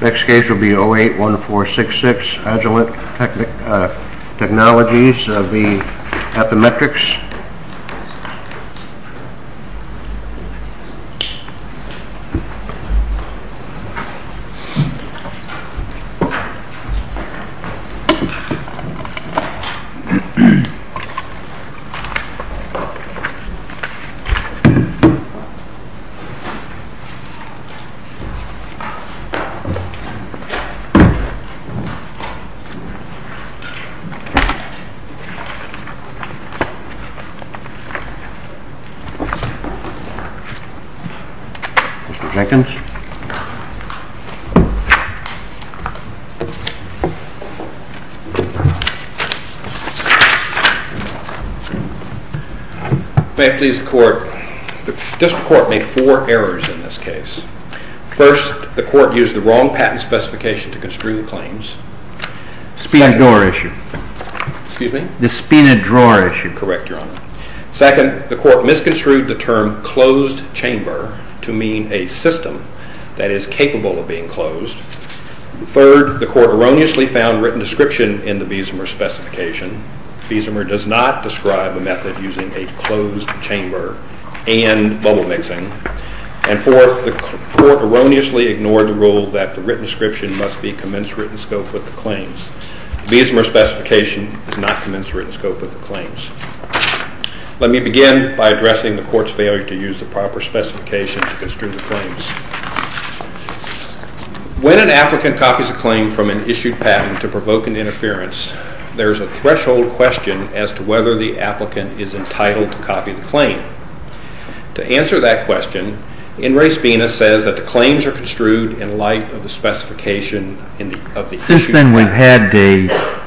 Next case will be 081466 Agilent Technologies v. Affymetrix May I please the court? The district court made four errors in this case. First, the court used the wrong patent specification to construe the claims. Second, the court misconstrued the term closed chamber to mean a system that is capable of being closed. Third, the court erroneously found written description in the Biesemer specification. Biesemer does not describe a method using a closed chamber and bubble mixing. And fourth, the court erroneously ignored the rule that the written description must be commensurate in scope with the claims. The Biesemer specification is not commensurate in scope with the claims. Let me begin by addressing the court's failure to use the proper specification to construe the claims. When an applicant copies a claim from an issued patent to provoke an interference, there is a threshold question as to whether the applicant is entitled to copy the claim. To answer that question, Inres Binas says that the claims are construed in light of the specification of the issued patent. Since then we've had a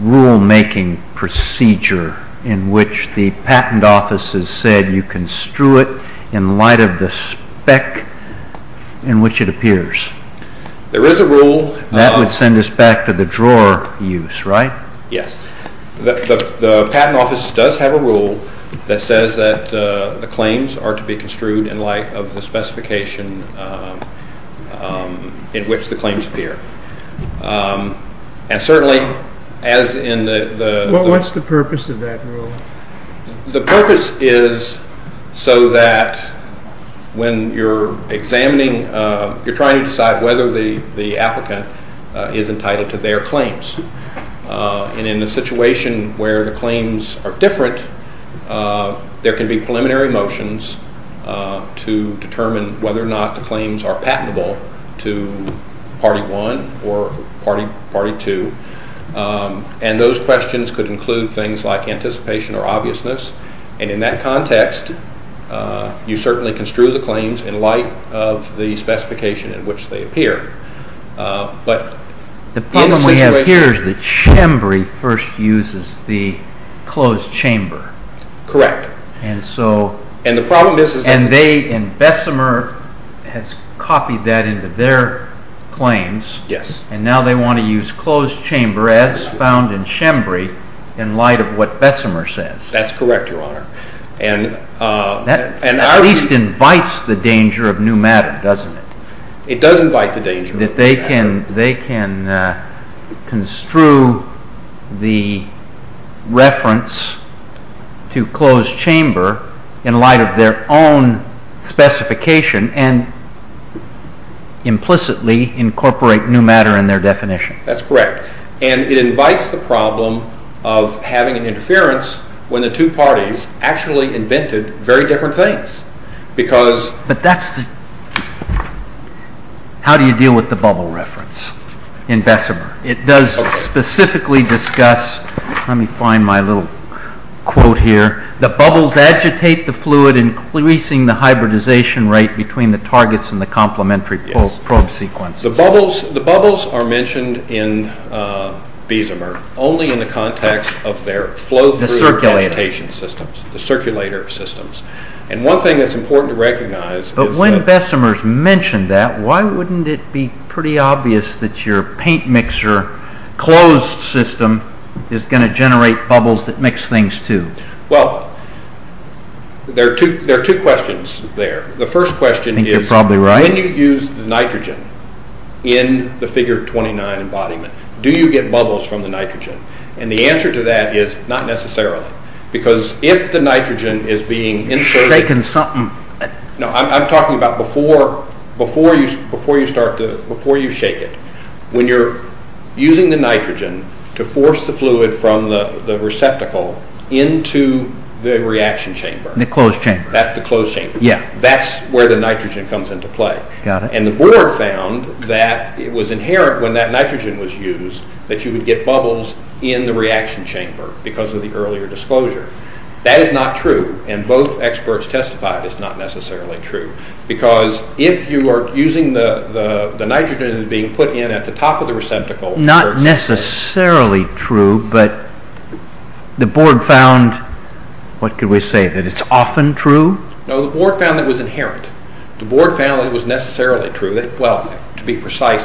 rule making procedure in which the patent office has said you construe it in light of the spec in which it appears. There is a rule. That would send us back to the drawer use, right? Yes. The patent office does have a rule that says that the claims are to be construed in light of the specification in which the claims appear. And certainly as in the... What's the purpose of that rule? The purpose is so that when you're examining, you're trying to decide whether the applicant is entitled to their claims. And in a situation where the claims are different, there can be preliminary motions to determine whether or not the claims are patentable to party one or party two. And those questions could include things like anticipation or obviousness. And in that context, you certainly construe the claims in light of the specification in which the claims appear. The problem we have here is that Chambry first uses the closed chamber. Correct. And Bessemer has copied that into their claims. Yes. And now they want to use closed chamber as found in Chambry in light of what Bessemer says. That's correct, Your Honor. That at least invites the danger of new matter, doesn't it? It does invite the danger. That they can construe the reference to closed chamber in light of their own specification and implicitly incorporate new matter in their definition. That's correct. And it invites the problem of having an interference when the two parties actually invented very different things. How do you deal with the bubble reference in Bessemer? It does specifically discuss – let me find my little quote here – the bubbles agitate the fluid, increasing the hybridization rate between the targets and the complementary probe sequences. The bubbles are mentioned in Bessemer only in the context of their flow-through agitation systems, the And one thing that's important to recognize is that – But when Bessemer's mentioned that, why wouldn't it be pretty obvious that your paint mixer closed system is going to generate bubbles that mix things, too? Well, there are two questions there. The first question is – I think you're probably right – when you use the nitrogen in the Figure 29 embodiment, do you get bubbles from the nitrogen? And the answer to that is not necessarily, because if the nitrogen is being inserted – No, I'm talking about before you shake it. When you're using the nitrogen to force the fluid from the receptacle into the reaction chamber – The closed chamber. That's the closed chamber. That's where the nitrogen comes into play. And the board found that it was inherent when that nitrogen was used that you would get bubbles in the reaction chamber because of the earlier disclosure. That is not true, and both experts testified it's not necessarily true, because if you are using the nitrogen that is being put in at the top of the receptacle – Not necessarily true, but the board found – What can we say? That it's often true? No, the board found that it was inherent. The board found that it was necessarily true. Well, to be exact,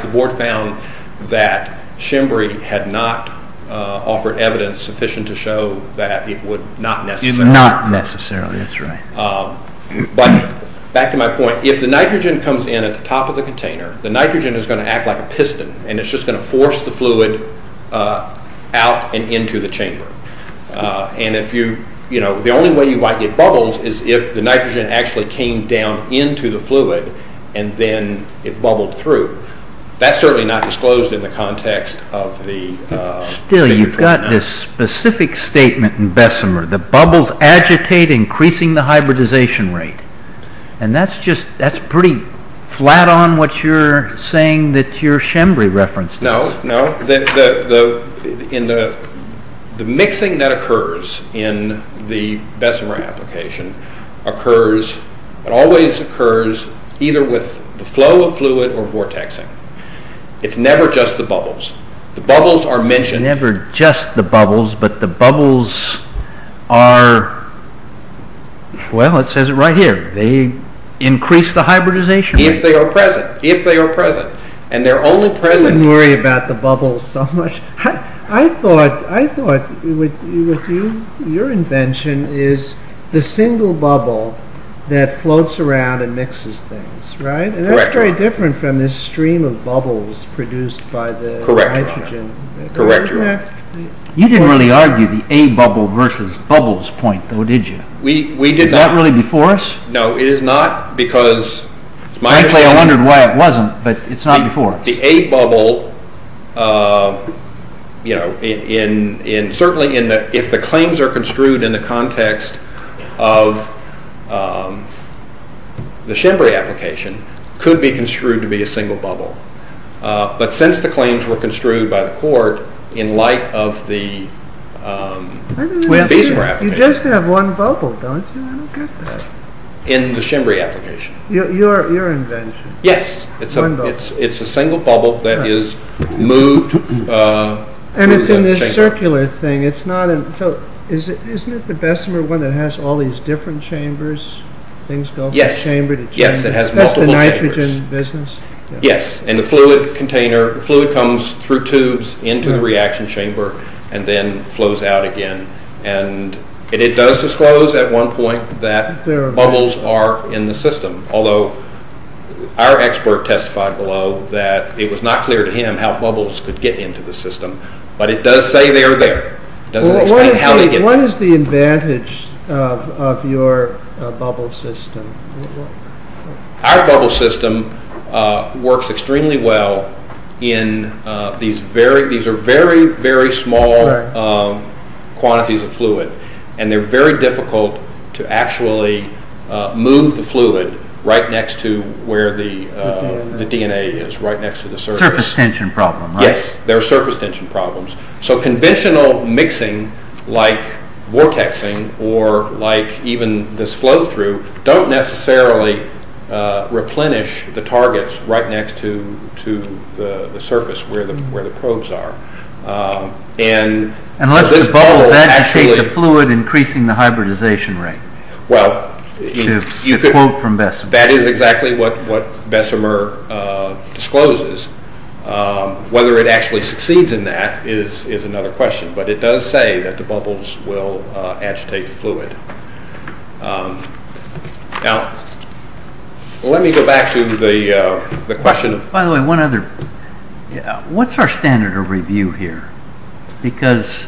Shimbry had not offered evidence sufficient to show that it would not necessarily be true. Not necessarily, that's right. But back to my point, if the nitrogen comes in at the top of the container, the nitrogen is going to act like a piston, and it's just going to force the fluid out and into the chamber. The only way you might get bubbles is if the nitrogen actually came down into the fluid and then it bubbled through. That's certainly not disclosed in the context of the figure 29. Still, you've got this specific statement in Bessemer, the bubbles agitate increasing the hybridization rate. That's pretty flat on what you're saying that your Shimbry reference is. No, no. The mixing that occurs in the Bessemer application occurs, it always occurs, either with the flow of fluid or vortexing. It's never just the bubbles. The bubbles are mentioned – It's never just the bubbles, but the bubbles are, well, it says it right here, they increase the hybridization rate. If they are present, if they are present, and they're only present – I didn't worry about the bubbles so much. I thought your invention is the single bubble that floats around and mixes things, right? Correct. That's very different from this stream of bubbles produced by the nitrogen. Correct. You didn't really argue the A-bubble versus bubbles point, though, did you? We did not. Is that really before us? No, it is not, because – Frankly, I wondered why it wasn't, but it's not before. The A-bubble, certainly if the claims are construed in the context of the Shimbry application, could be construed to be a single bubble. But since the claims were construed by the court in light of the Bessemer application – You just Yes, it's a single bubble that is moved – And it's in this circular thing. Isn't it the Bessemer one that has all these different chambers? Yes, it has multiple chambers. That's the nitrogen business? Yes, and the fluid comes through tubes into the reaction chamber and then flows out again. It does disclose at one point that bubbles are in the system, although our expert testified below that it was not clear to him how bubbles could get into the system. But it does say they are there. It doesn't explain how they get there. What is the advantage of your bubble system? Our bubble system works extremely well in these very small quantities of fluid. They are very difficult to actually move the fluid right next to where the DNA is, right next to the surface. Surface tension problem, right? Yes, there are surface tension problems. Conventional mixing, like vortexing, or like even this flow through, don't necessarily replenish the targets right next to the surface where the probes are. Unless the bubbles agitate the fluid, increasing the hybridization rate, to quote from Bessemer. That is exactly what Bessemer discloses. Whether it actually succeeds in that is another question. But it does say that the bubbles will agitate the fluid. Now, let me go back to the question. By the way, one other. What's our standard of review here? Because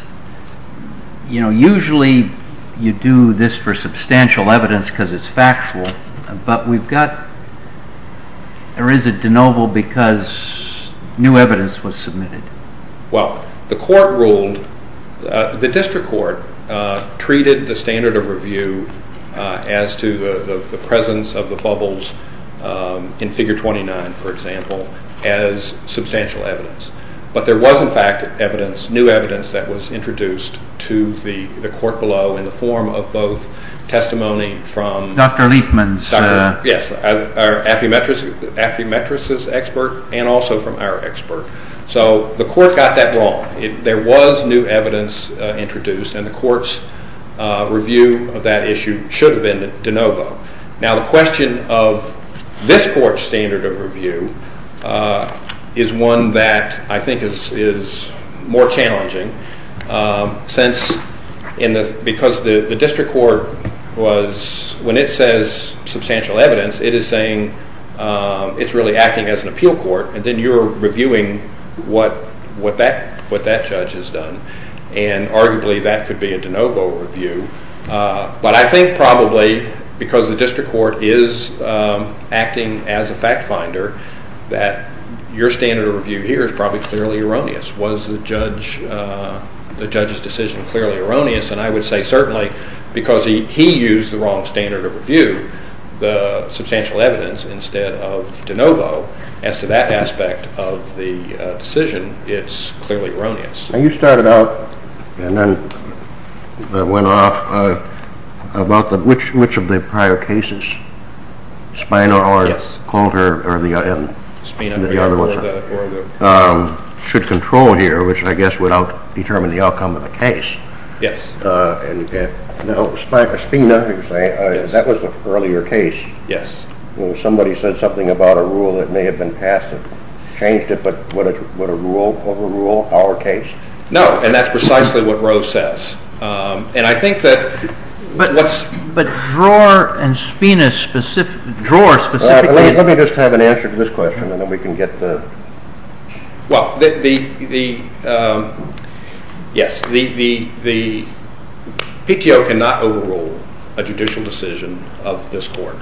usually you do this for substantial evidence because it's factual, but we've got, there is a de novo because new evidence was submitted. Well, the court ruled, the district court treated the standard of review as to the presence of the bubbles in figure 29, for example, as substantial evidence. But there was in fact new evidence that was introduced to the court below in the form of Affymetris' expert and also from our expert. So the court got that wrong. There was new evidence introduced and the court's review of that issue should have been de novo. Now the question of this court's standard of review is one that I think is more challenging. Since, because the district court was, when it says substantial evidence, it is saying it's really acting as an appeal court and then you're reviewing what that judge has done. And arguably that could be a de novo review. But I think probably because the district court is acting as a fact finder that your standard of review here is probably clearly erroneous. Was the judge's decision clearly erroneous? And I would say certainly because he used the wrong standard of review, the substantial evidence, instead of de novo. As to that aspect of the decision, it's clearly erroneous. And you started out and then went off about which of the prior cases, Spina or Colter or the other ones, should control here, which I guess would out determine the outcome of the case. Yes. Now, Spina, that was an earlier case. Yes. Somebody said something about a rule that may have been passed and changed it, but would a rule overrule our case? No, and that's precisely what Roe says. And I think that... But Dror and Spina specifically... Let me just have an answer to this question and then we can get the... Well, yes, the PTO cannot overrule a judicial decision of this court.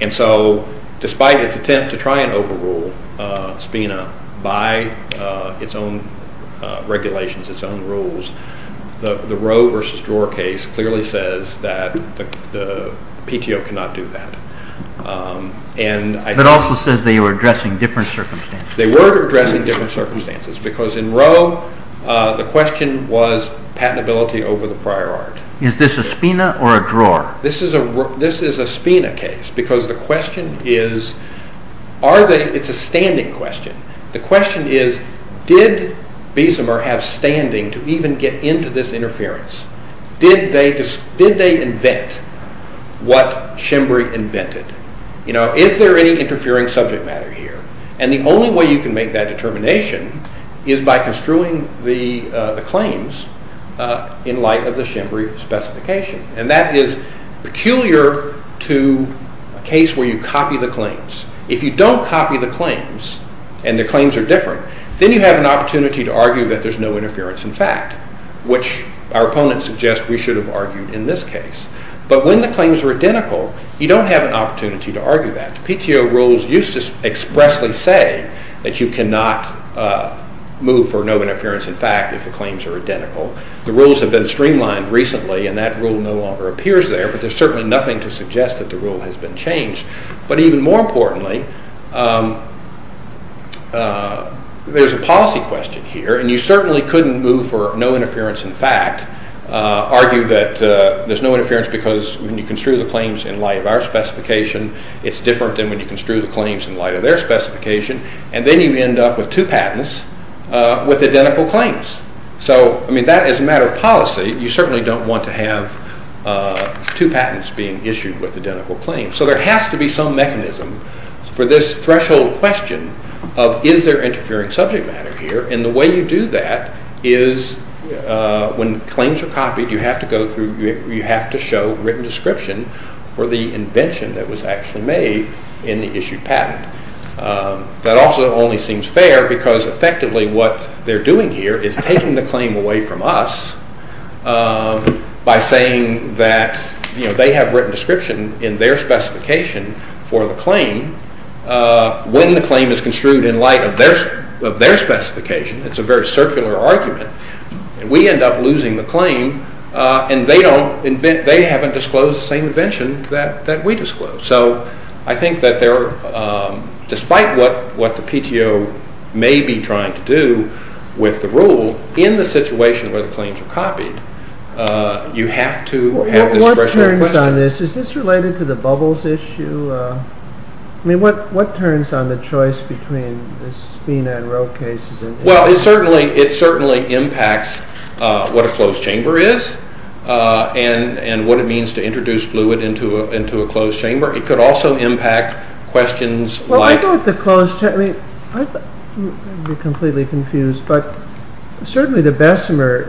And so, despite its attempt to try and overrule Spina by its own regulations, its own rules, the Roe versus Dror case clearly says that the different circumstances, because in Roe, the question was patentability over the prior art. Is this a Spina or a Dror? This is a Spina case, because the question is, it's a standing question. The question is, did Biesemer have standing to even get into this interference? Did they invent what they did? And I think that determination is by construing the claims in light of the Schembri specification. And that is peculiar to a case where you copy the claims. If you don't copy the claims and the claims are different, then you have an opportunity to argue that there's no interference in fact, which our opponents suggest we should have argued in this case. But when the claims are identical, you don't have an opportunity to argue that. The PTO rules used to expressly say that you cannot move for no interference in fact if the claims are identical. The rules have been streamlined recently and that rule no longer appears there, but there's certainly nothing to suggest that the rule has been changed. But even more importantly, there's a policy question here, and you certainly couldn't move for no interference in fact, argue that there's no interference because when you construe the claims in light of our specification, it's different than when you construe the claims in light of their specification. And then you end up with two patents with identical claims. So, I mean, that is a matter of policy. You certainly don't want to have two patents being issued with identical claims. So there has to be some mechanism for this threshold question of, is there interfering subject matter here? And the way you do that is when claims are copied, you have to go through, you have to show written description for the invention that was actually made in the issued patent. That also only seems fair because effectively what they're doing here is taking the claim away from us by saying that, you know, they have written description in their specification for the claim. When the claim is construed in light of their specification, it's a very circular argument, and we end up losing the claim, and they haven't disclosed the same invention that we disclosed. So I think that despite what the PTO may be trying to do with the rule, in the situation where the claims are copied, you have to have this threshold question. What turns on this? Is this related to the bubbles issue? I mean, what turns on the choice between the Spina and Rowe cases? Well, it certainly impacts what a closed chamber is and what it means to introduce fluid into a closed chamber. It could also impact questions like... I'm completely confused, but certainly the Bessemer,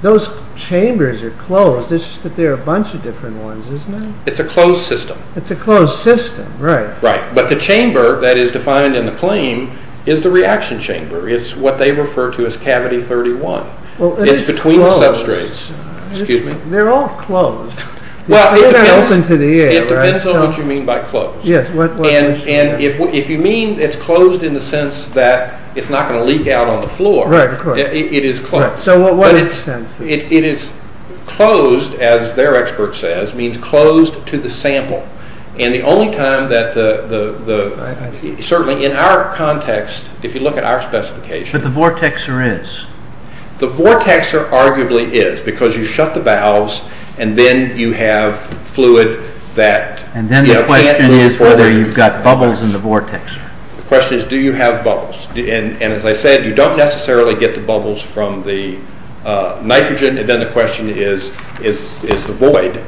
those chambers are closed, it's just that there are a bunch of different ones, isn't it? It's a closed system. It's a closed system, right. Right, but the chamber that is defined in the claim is the reaction chamber. It's what they refer to as cavity 31. It's between the substrates. They're all closed. Well, it depends on what you mean by closed. And if you mean it's closed in the sense that it's not going to leak out on the floor, it is closed. It is closed, as their expert says, means closed to the sample. And the only time that the... certainly in our context, if you look at our specification... But the vortexer is. The vortexer arguably is, because you shut the valves and then you have fluid that... And then the question is whether you've got bubbles in the vortex. The question is, do you have bubbles? And as I said, you don't necessarily get the bubbles from the nitrogen. And then the question is the void.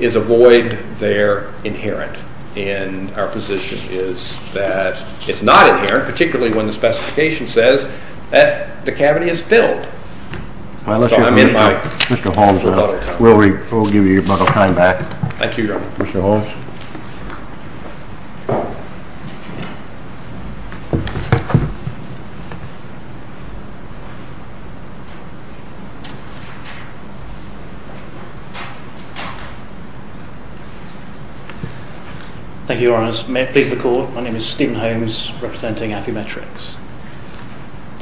Is a void there inherent? And our position is that it's not inherent, particularly when the specification says that the cavity is filled. Mr. Holmes, we'll give you your bundle of time back. Thank you, Your Honor. Mr. Holmes. Thank you, Your Honor. May it please the Court. My name is Stephen Holmes, representing Affymetrix.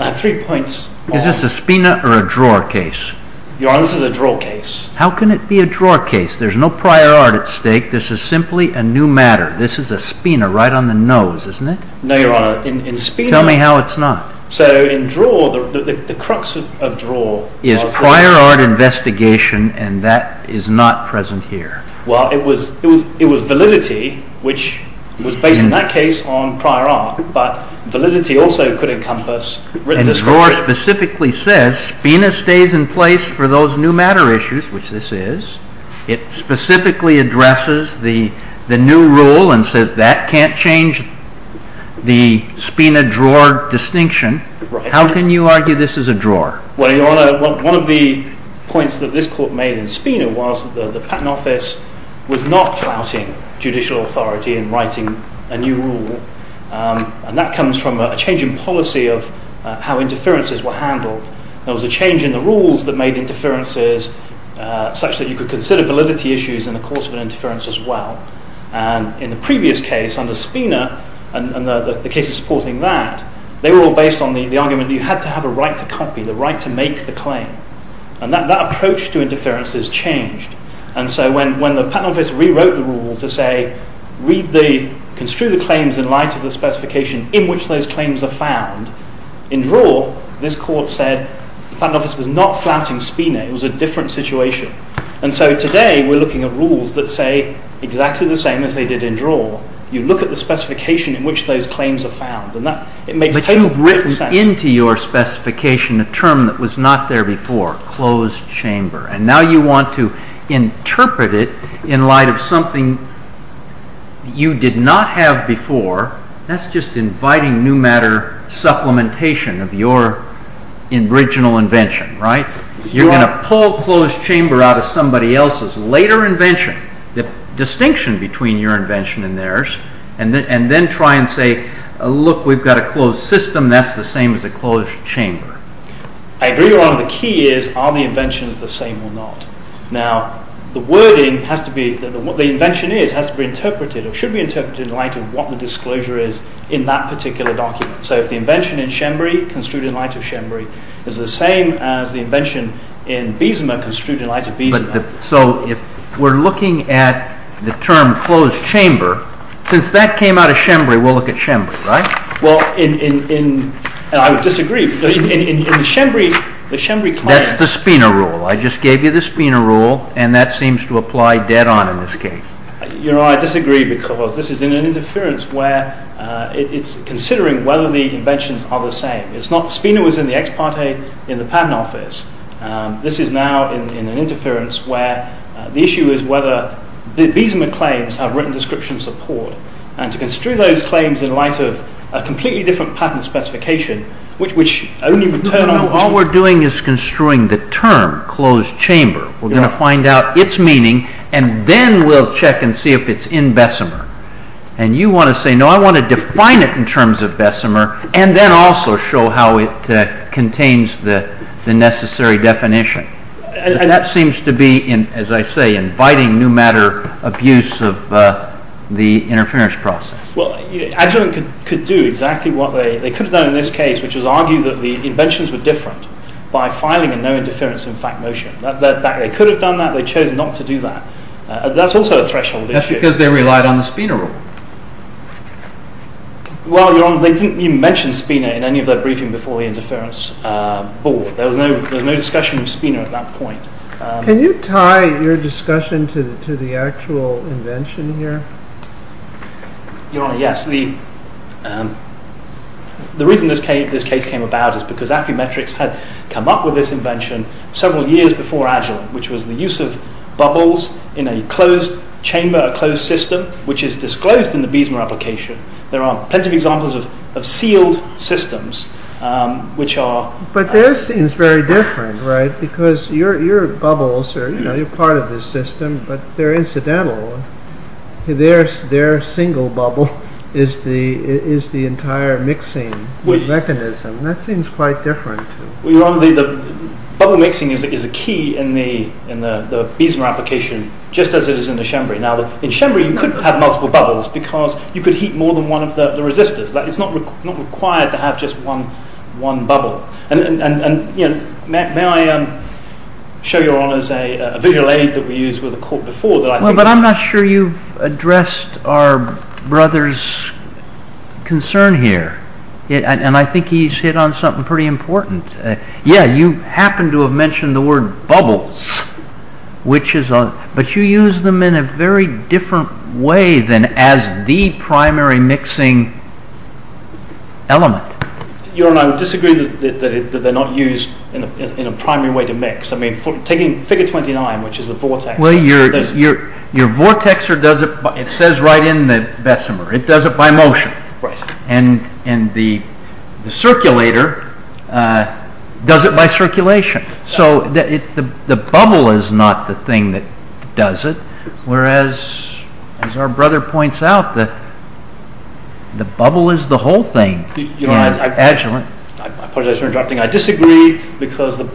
I have three points on... Is this a spina or a drawer case? Your Honor, this is a drawer case. How can it be a drawer case? There's no prior art at stake. This is simply a new matter. This is a spina, right on the nose, isn't it? No, Your Honor. In spina... Tell me how it's not. So, in drawer, the crux of drawer... Is prior art investigation, and that is not present here. Well, it was validity, which was based in that case on prior art, but validity also could encompass... The drawer specifically says spina stays in place for those new matter issues, which this is. It specifically addresses the new rule and says that can't change the spina-drawer distinction. How can you argue this is a drawer? Well, Your Honor, one of the points that this Court made in spina was that the Patent Office was not flouting judicial authority in writing a new rule. And that comes from a change in policy of how interferences were handled. There was a change in the rules that made interferences such that you could consider validity issues in the course of an interference as well. And in the previous case, under spina, and the cases supporting that, they were all based on the argument that you had to have a right to copy, the right to make the claim. And so when the Patent Office rewrote the rule to say, read the, construe the claims in light of the specification in which those claims are found, in drawer, this Court said the Patent Office was not flouting spina. It was a different situation. And so today, we're looking at rules that say exactly the same as they did in drawer. You look at the specification in which those claims are found, and that, it makes total sense. But you've written into your specification a term that was not there before, closed chamber. And now you want to interpret it in light of something you did not have before. That's just inviting new matter supplementation of your original invention, right? You're going to pull closed chamber out of somebody else's later invention, the distinction between your invention and theirs, and then try and say, look, we've got a closed system, that's the same as a closed chamber. I agree you're wrong. The key is, are the inventions the same or not? Now, the wording has to be, what the invention is, has to be interpreted, or should be interpreted in light of what the disclosure is in that particular document. So if the invention in Shembury, construed in light of Shembury, is the same as the invention in Bismarck, construed in light of Bismarck. So if we're looking at the term closed chamber, since that came out of Shembury, we'll look at Shembury, right? Well, I would disagree. That's the Spina rule. I just gave you the Spina rule, and that seems to apply dead on in this case. You know, I disagree because this is in an interference where it's considering whether the inventions are the same. Spina was in the ex parte in the patent office. This is now in an interference where the issue is whether the Bismarck claims have written description support. And to construe those claims in light of a completely different patent specification, which only would turn on the... All we're doing is construing the term closed chamber. We're going to find out its meaning, and then we'll check and see if it's in Bessemer. And you want to say, no, I want to define it in terms of Bessemer, and then also show how it contains the necessary definition. That seems to be, as I say, inviting new matter abuse of the interference process. Well, Agilent could do exactly what they could have done in this case, which was argue that the inventions were different by filing a no interference in fact motion. They could have done that. They chose not to do that. That's also a threshold issue. That's because they relied on the Spina rule. Well, you mentioned Spina in any of their briefing before the interference board. There was no discussion of Spina at that point. Can you tie your discussion to the actual invention here? Your Honor, yes. The reason this case came about is because Affymetrix had come up with this invention several years before Agilent, which was the use of bubbles in a closed chamber, a closed system, which is disclosed in the Bessemer application. There are plenty of examples of sealed systems, which are... But theirs seems very different, right? Because your bubbles are part of the system, but they're incidental. Their single bubble is the entire mixing mechanism. That seems quite different. Your Honor, the bubble mixing is a key in the Bessemer application, just as it is in the Chambry. Now, in Chambry you could have multiple bubbles because you could heat more than one of the resistors. It's not required to have just one bubble. May I show your Honor a visual aid that we used with the court before? But I'm not sure you've addressed our brother's concern here. And I think he's hit on something pretty important. Yeah, you happen to have mentioned the word bubbles, but you use them in a very different way than as the primary mixing element. Your Honor, I would disagree that they're not used in a primary way to mix. I mean, taking figure 29, which is the vortex... Well, your vortexer does it... It says right in the Bessemer. It does it by motion. And the circulator does it by circulation. So the bubble is not the thing that does it. Whereas, as our brother points out, the bubble is the whole thing. Your Honor, I apologize for interrupting. I disagree because in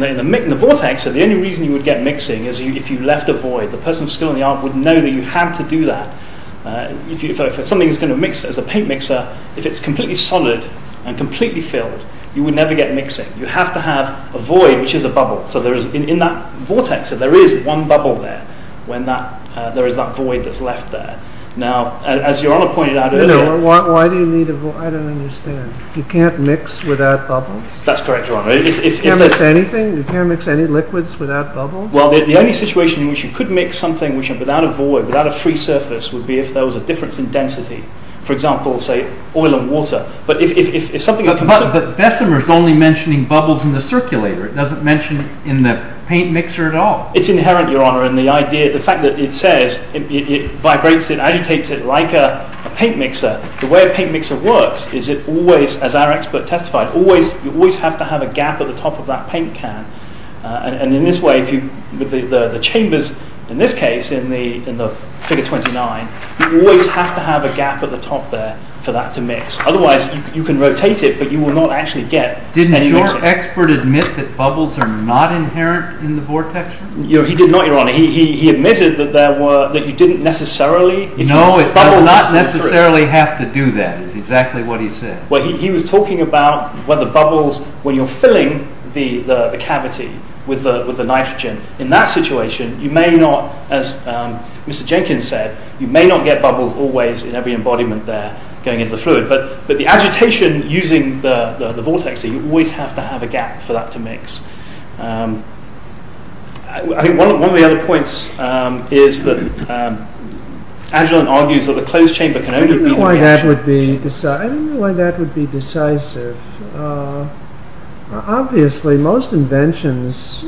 the vortexer, the only reason you would get mixing is if you left a void. The person still in the arm would know that you had to do that. If something is going to mix as a paint mixer, if it's completely solid and completely filled, you would never get mixing. You have to have a void, which is a bubble. So in that vortexer, there is one bubble there when there is that void that's left there. Now, as your Honor pointed out earlier... Why do you need a void? I don't understand. You can't mix without bubbles? That's correct, your Honor. You can't mix anything? You can't mix any liquids without bubbles? Well, the only situation in which you could mix something without a void, without a free surface, would be if there was a difference in density. For example, say, oil and water. But Bessemer is only mentioning bubbles in the circulator. It doesn't mention in the paint mixer at all. It's inherent, your Honor, in the fact that it says it vibrates, it agitates it like a paint mixer. The way a paint mixer works is it always, as our expert testified, you always have to have a gap at the top of that paint can. And in this way, the chambers, in this case, in the Figure 29, you always have to have a gap at the top there for that to mix. Otherwise, you can rotate it, but you will not actually get any mixing. Didn't your expert admit that bubbles are not inherent in the vortex? He did not, your Honor. He admitted that you didn't necessarily... No, it does not necessarily have to do that, is exactly what he said. Well, he was talking about whether bubbles, when you're filling the cavity with the nitrogen, in that situation, you may not, as Mr. Jenkins said, you may not get bubbles always in every embodiment there going into the fluid. But the agitation using the vortex, you always have to have a gap for that to mix. I think one of the other points is that Agilent argues that a closed chamber can only be... I don't know why that would be decisive. Obviously, most inventions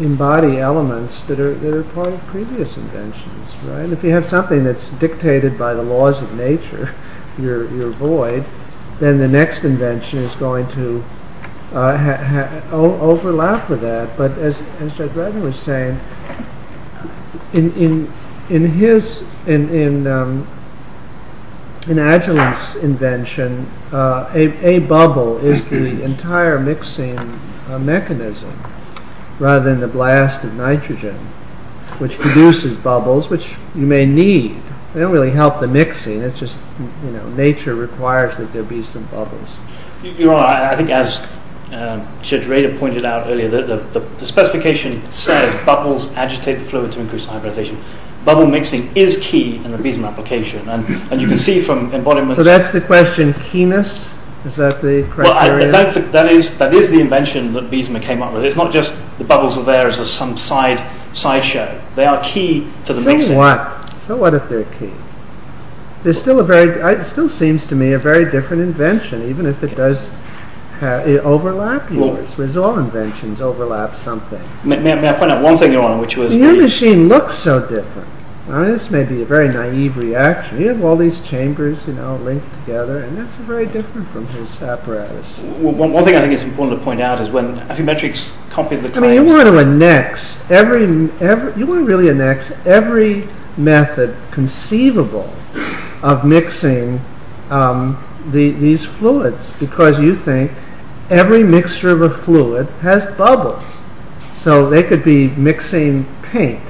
embody elements that are part of previous inventions, right? If you have something that's dictated by the laws of nature, your void, then the next invention is going to overlap with that. But as Judge Redman was saying, in Agilent's invention, a bubble is the entire mixing mechanism, rather than the blast of nitrogen, which produces bubbles, which you may need. They don't really help the mixing, it's just nature requires that there be some bubbles. Your Honor, I think as Judge Rader pointed out earlier, the specification says bubbles agitate the fluid to increase hybridization. Bubble mixing is key in the BISMA application. And you can see from embodiments... So that's the question, keenness? Is that the criteria? That is the invention that BISMA came up with. So it's not just the bubbles are there as some sideshow. They are key to the mixing. So what? So what if they're key? It still seems to me a very different invention, even if it does overlap yours. Because all inventions overlap something. May I point out one thing, Your Honor, which was... Your machine looks so different. This may be a very naive reaction. You have all these chambers linked together, and that's very different from his apparatus. One thing I think it's important to point out is when Affymetrix copied the claims... You want to really annex every method conceivable of mixing these fluids. Because you think every mixture of a fluid has bubbles. So they could be mixing paint.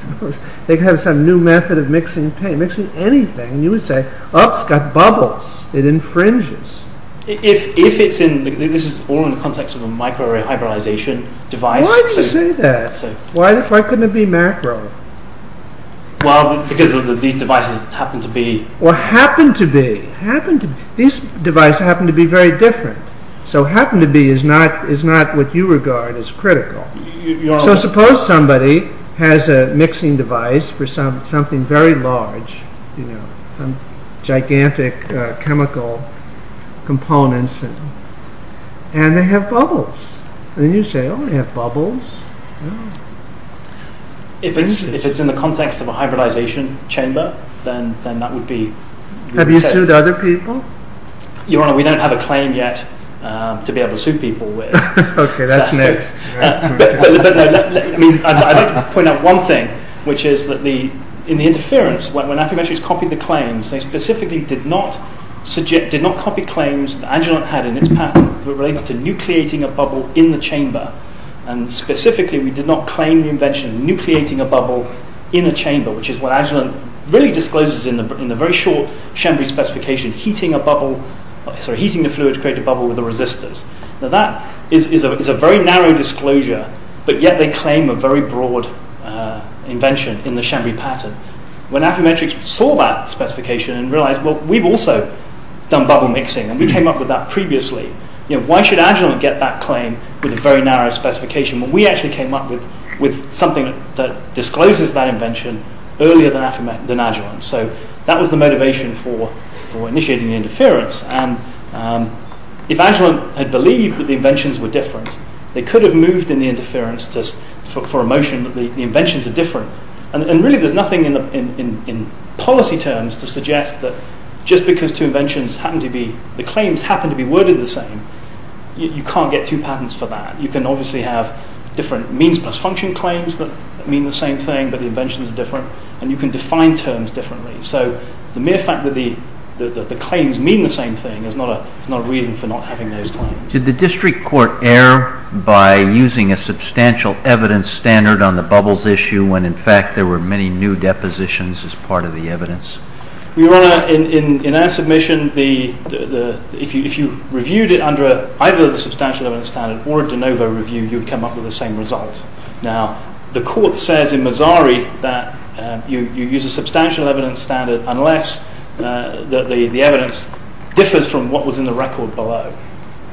They could have some new method of mixing paint. Mixing anything, you would say, oh, it's got bubbles. It infringes. If it's in... This is all in the context of a micro-rehybrization device... Why do you say that? Why couldn't it be macro? Well, because these devices happen to be... Well, happen to be. These devices happen to be very different. So happen to be is not what you regard as critical. So suppose somebody has a mixing device for something very large. Some gigantic chemical components, and they have bubbles. Then you say, oh, they have bubbles. If it's in the context of a hybridization chamber, then that would be... Have you sued other people? Your Honor, we don't have a claim yet to be able to sue people with. Okay, that's next. I'd like to point out one thing, which is that in the interference, when afferentries copied the claims, they specifically did not copy claims that Agilent had in its patent related to nucleating a bubble in the chamber. Specifically, we did not claim the invention of nucleating a bubble in a chamber, which is what Agilent really discloses in the very short Chambry specification, heating the fluid to create a bubble with the resistors. Now that is a very narrow disclosure, but yet they claim a very broad invention in the Chambry patent. When Affermetrix saw that specification and realized, well, we've also done bubble mixing, and we came up with that previously. Why should Agilent get that claim with a very narrow specification? Well, we actually came up with something that discloses that invention earlier than Agilent. So that was the motivation for initiating the interference. If Agilent had believed that the inventions were different, they could have moved in the interference for a motion that the inventions are different. Really, there's nothing in policy terms to suggest that just because the claims happen to be worded the same, you can't get two patents for that. You can obviously have different means plus function claims that mean the same thing, but the inventions are different, and you can define terms differently. So the mere fact that the claims mean the same thing is not a reason for not having those claims. Did the district court err by using a substantial evidence standard on the bubbles issue when, in fact, there were many new depositions as part of the evidence? Your Honor, in our submission, if you reviewed it under either the substantial evidence standard or a de novo review, you'd come up with the same result. Now, the court says in Mazzari that you use a substantial evidence standard unless the evidence differs from what was in the record below.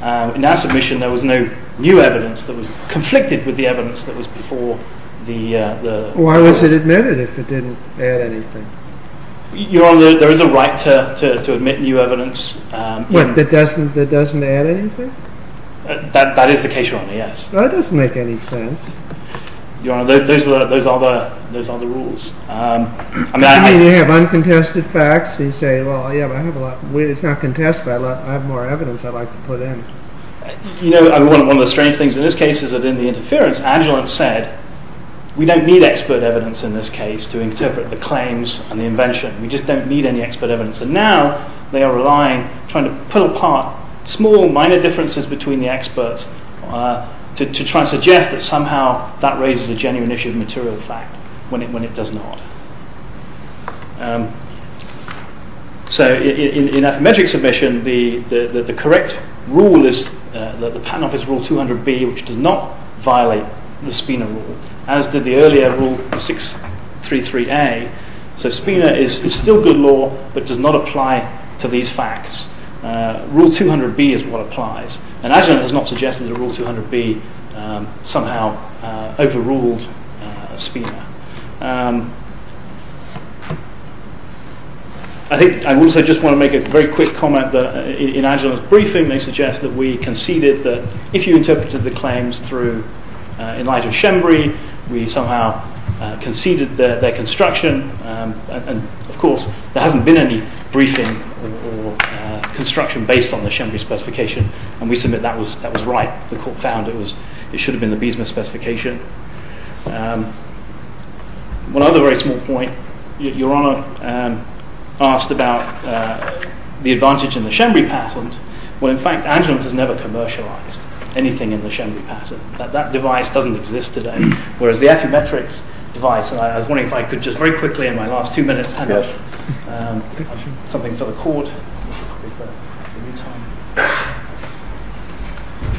In our submission, there was no new evidence that was conflicted with the evidence that was before the... Why was it admitted if it didn't add anything? Your Honor, there is a right to admit new evidence... What, that doesn't add anything? That is the case, Your Honor, yes. Well, it doesn't make any sense. Your Honor, those are the rules. I mean, you have uncontested facts, and you say, well, yeah, but I have a lot... It's not contested, but I have more evidence I'd like to put in. You know, one of the strange things in this case is that in the interference, Agilent said, we don't need expert evidence in this case to interpret the claims and the invention. We just don't need any expert evidence. And now they are relying, trying to pull apart small, minor differences between the experts to try and suggest that somehow that raises a genuine issue of material fact when it does not. So, in that metric submission, the correct rule is the Patent Office Rule 200B, which does not violate the Spina rule, as did the earlier Rule 633A. So Spina is still good law, but does not apply to these facts. Rule 200B is what applies. And Agilent has not suggested that Rule 200B somehow overruled Spina. I think I also just want to make a very quick comment that in Agilent's briefing, they suggest that we conceded that if you interpreted the claims through Elijah Shembury, we somehow conceded their construction. And, of course, there hasn't been any briefing or construction based on the Shembury specification, and we submit that was right. The Court found it should have been the Bismuth specification. One other very small point. Your Honour asked about the advantage in the Shembury patent. Well, in fact, Agilent has never commercialized anything in the Shembury patent. That device doesn't exist today. Whereas the Affymetrix device, and I was wondering if I could just very quickly in my last two minutes hand out something for the Court.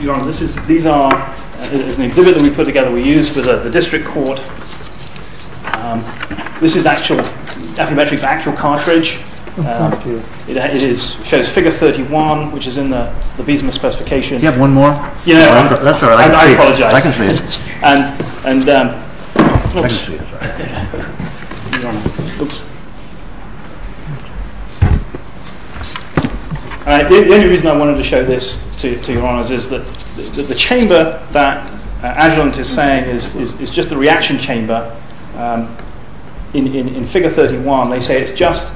Your Honour, this is an exhibit that we put together, we used for the District Court. This is Affymetrix's actual cartridge. It shows figure 31, which is in the Bismuth specification. Do you have one more? I apologize. And... The only reason I wanted to show this to Your Honours is that the chamber that Agilent is saying is just the reaction chamber in figure 31. They say it's just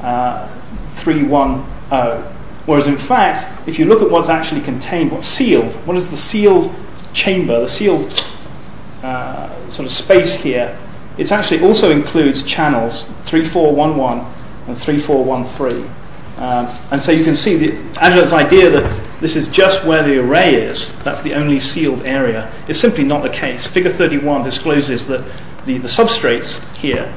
3-1-0. Whereas, in fact, if you look at what's actually contained, what's sealed, what is the sealed chamber, the sealed sort of space here, it actually also includes channels 3-4-1-1 and 3-4-1-3. And so you can see Agilent's idea that this is just where the array is, that's the only sealed area, is simply not the case. Figure 31 discloses that the substrates here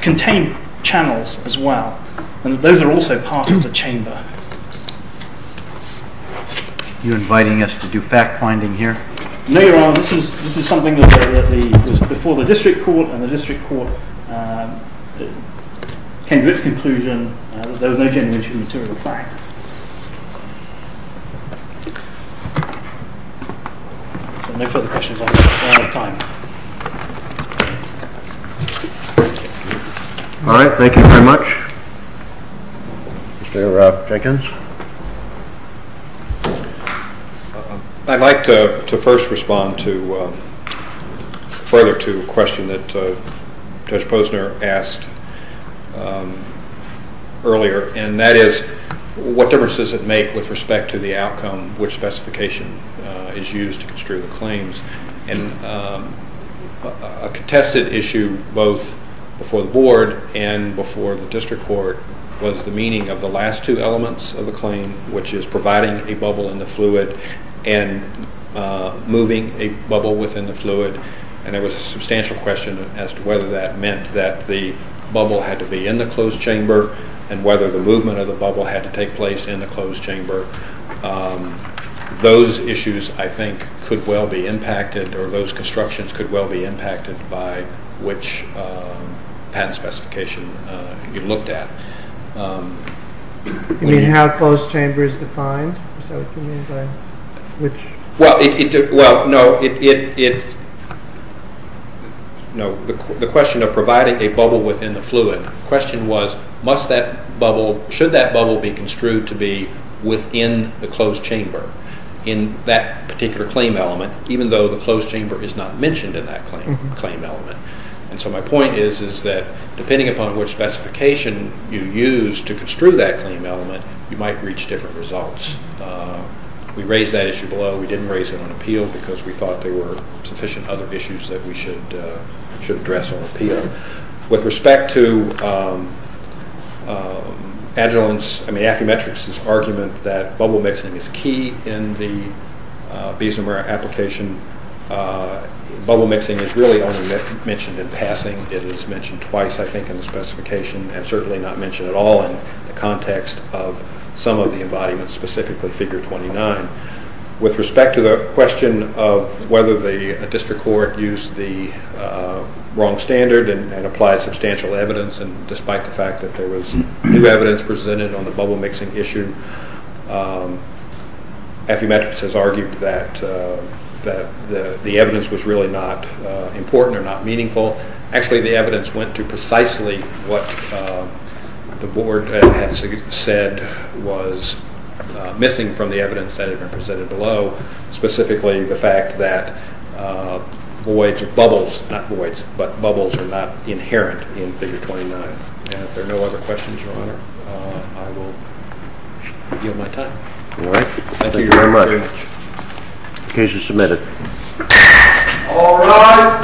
contain channels as well. And those are also part of the chamber. Are you inviting us to do fact-finding here? No, Your Honour. This is something that was before the District Court, and the District Court came to its conclusion that there was no genuine material fact. So no further questions. I'm out of time. All right. Thank you very much. Mr. Jenkins? I'd like to first respond further to a question that Judge Posner asked earlier, and that is what difference does it make with respect to the outcome, which specification is used to construe the claims? And a contested issue both before the Board and before the District Court was the meaning of the last two elements of the claim, which is providing a bubble in the fluid and moving a bubble within the fluid. And there was a substantial question as to whether that meant that the bubble had to be in the closed chamber and whether the movement of the bubble had to take place in the closed chamber. Those issues, I think, could well be impacted, or those constructions could well be impacted by which patent specification you looked at. You mean how closed chamber is defined? The question of providing a bubble within the fluid. The question was should that bubble be construed to be within the closed chamber, in that particular claim element, even though the closed chamber is not mentioned in that claim element. And so my point is that depending upon which specification you use to construe that claim element, you might reach different results. We raised that issue below. We didn't raise it on appeal because we thought there were sufficient other issues that we should address on appeal. With respect to Affymetrix's argument that bubble mixing is key in the Biesemer application, bubble mixing is really only mentioned in passing. It is mentioned twice, I think, in the specification and certainly not mentioned at all in the context of some of the embodiments, specifically figure 29. With respect to the question of whether the district court used the wrong standard and applied substantial evidence, and despite the fact that there was new evidence presented on the bubble mixing issue, Affymetrix has argued that the evidence was really not important or not meaningful. Actually, the evidence went to precisely what the board had said was missing from the evidence that had been presented below, specifically the fact that bubbles are not inherent in figure 29. If there are no other questions, Your Honor, I will yield my time. Thank you very much. The case is submitted. All rise.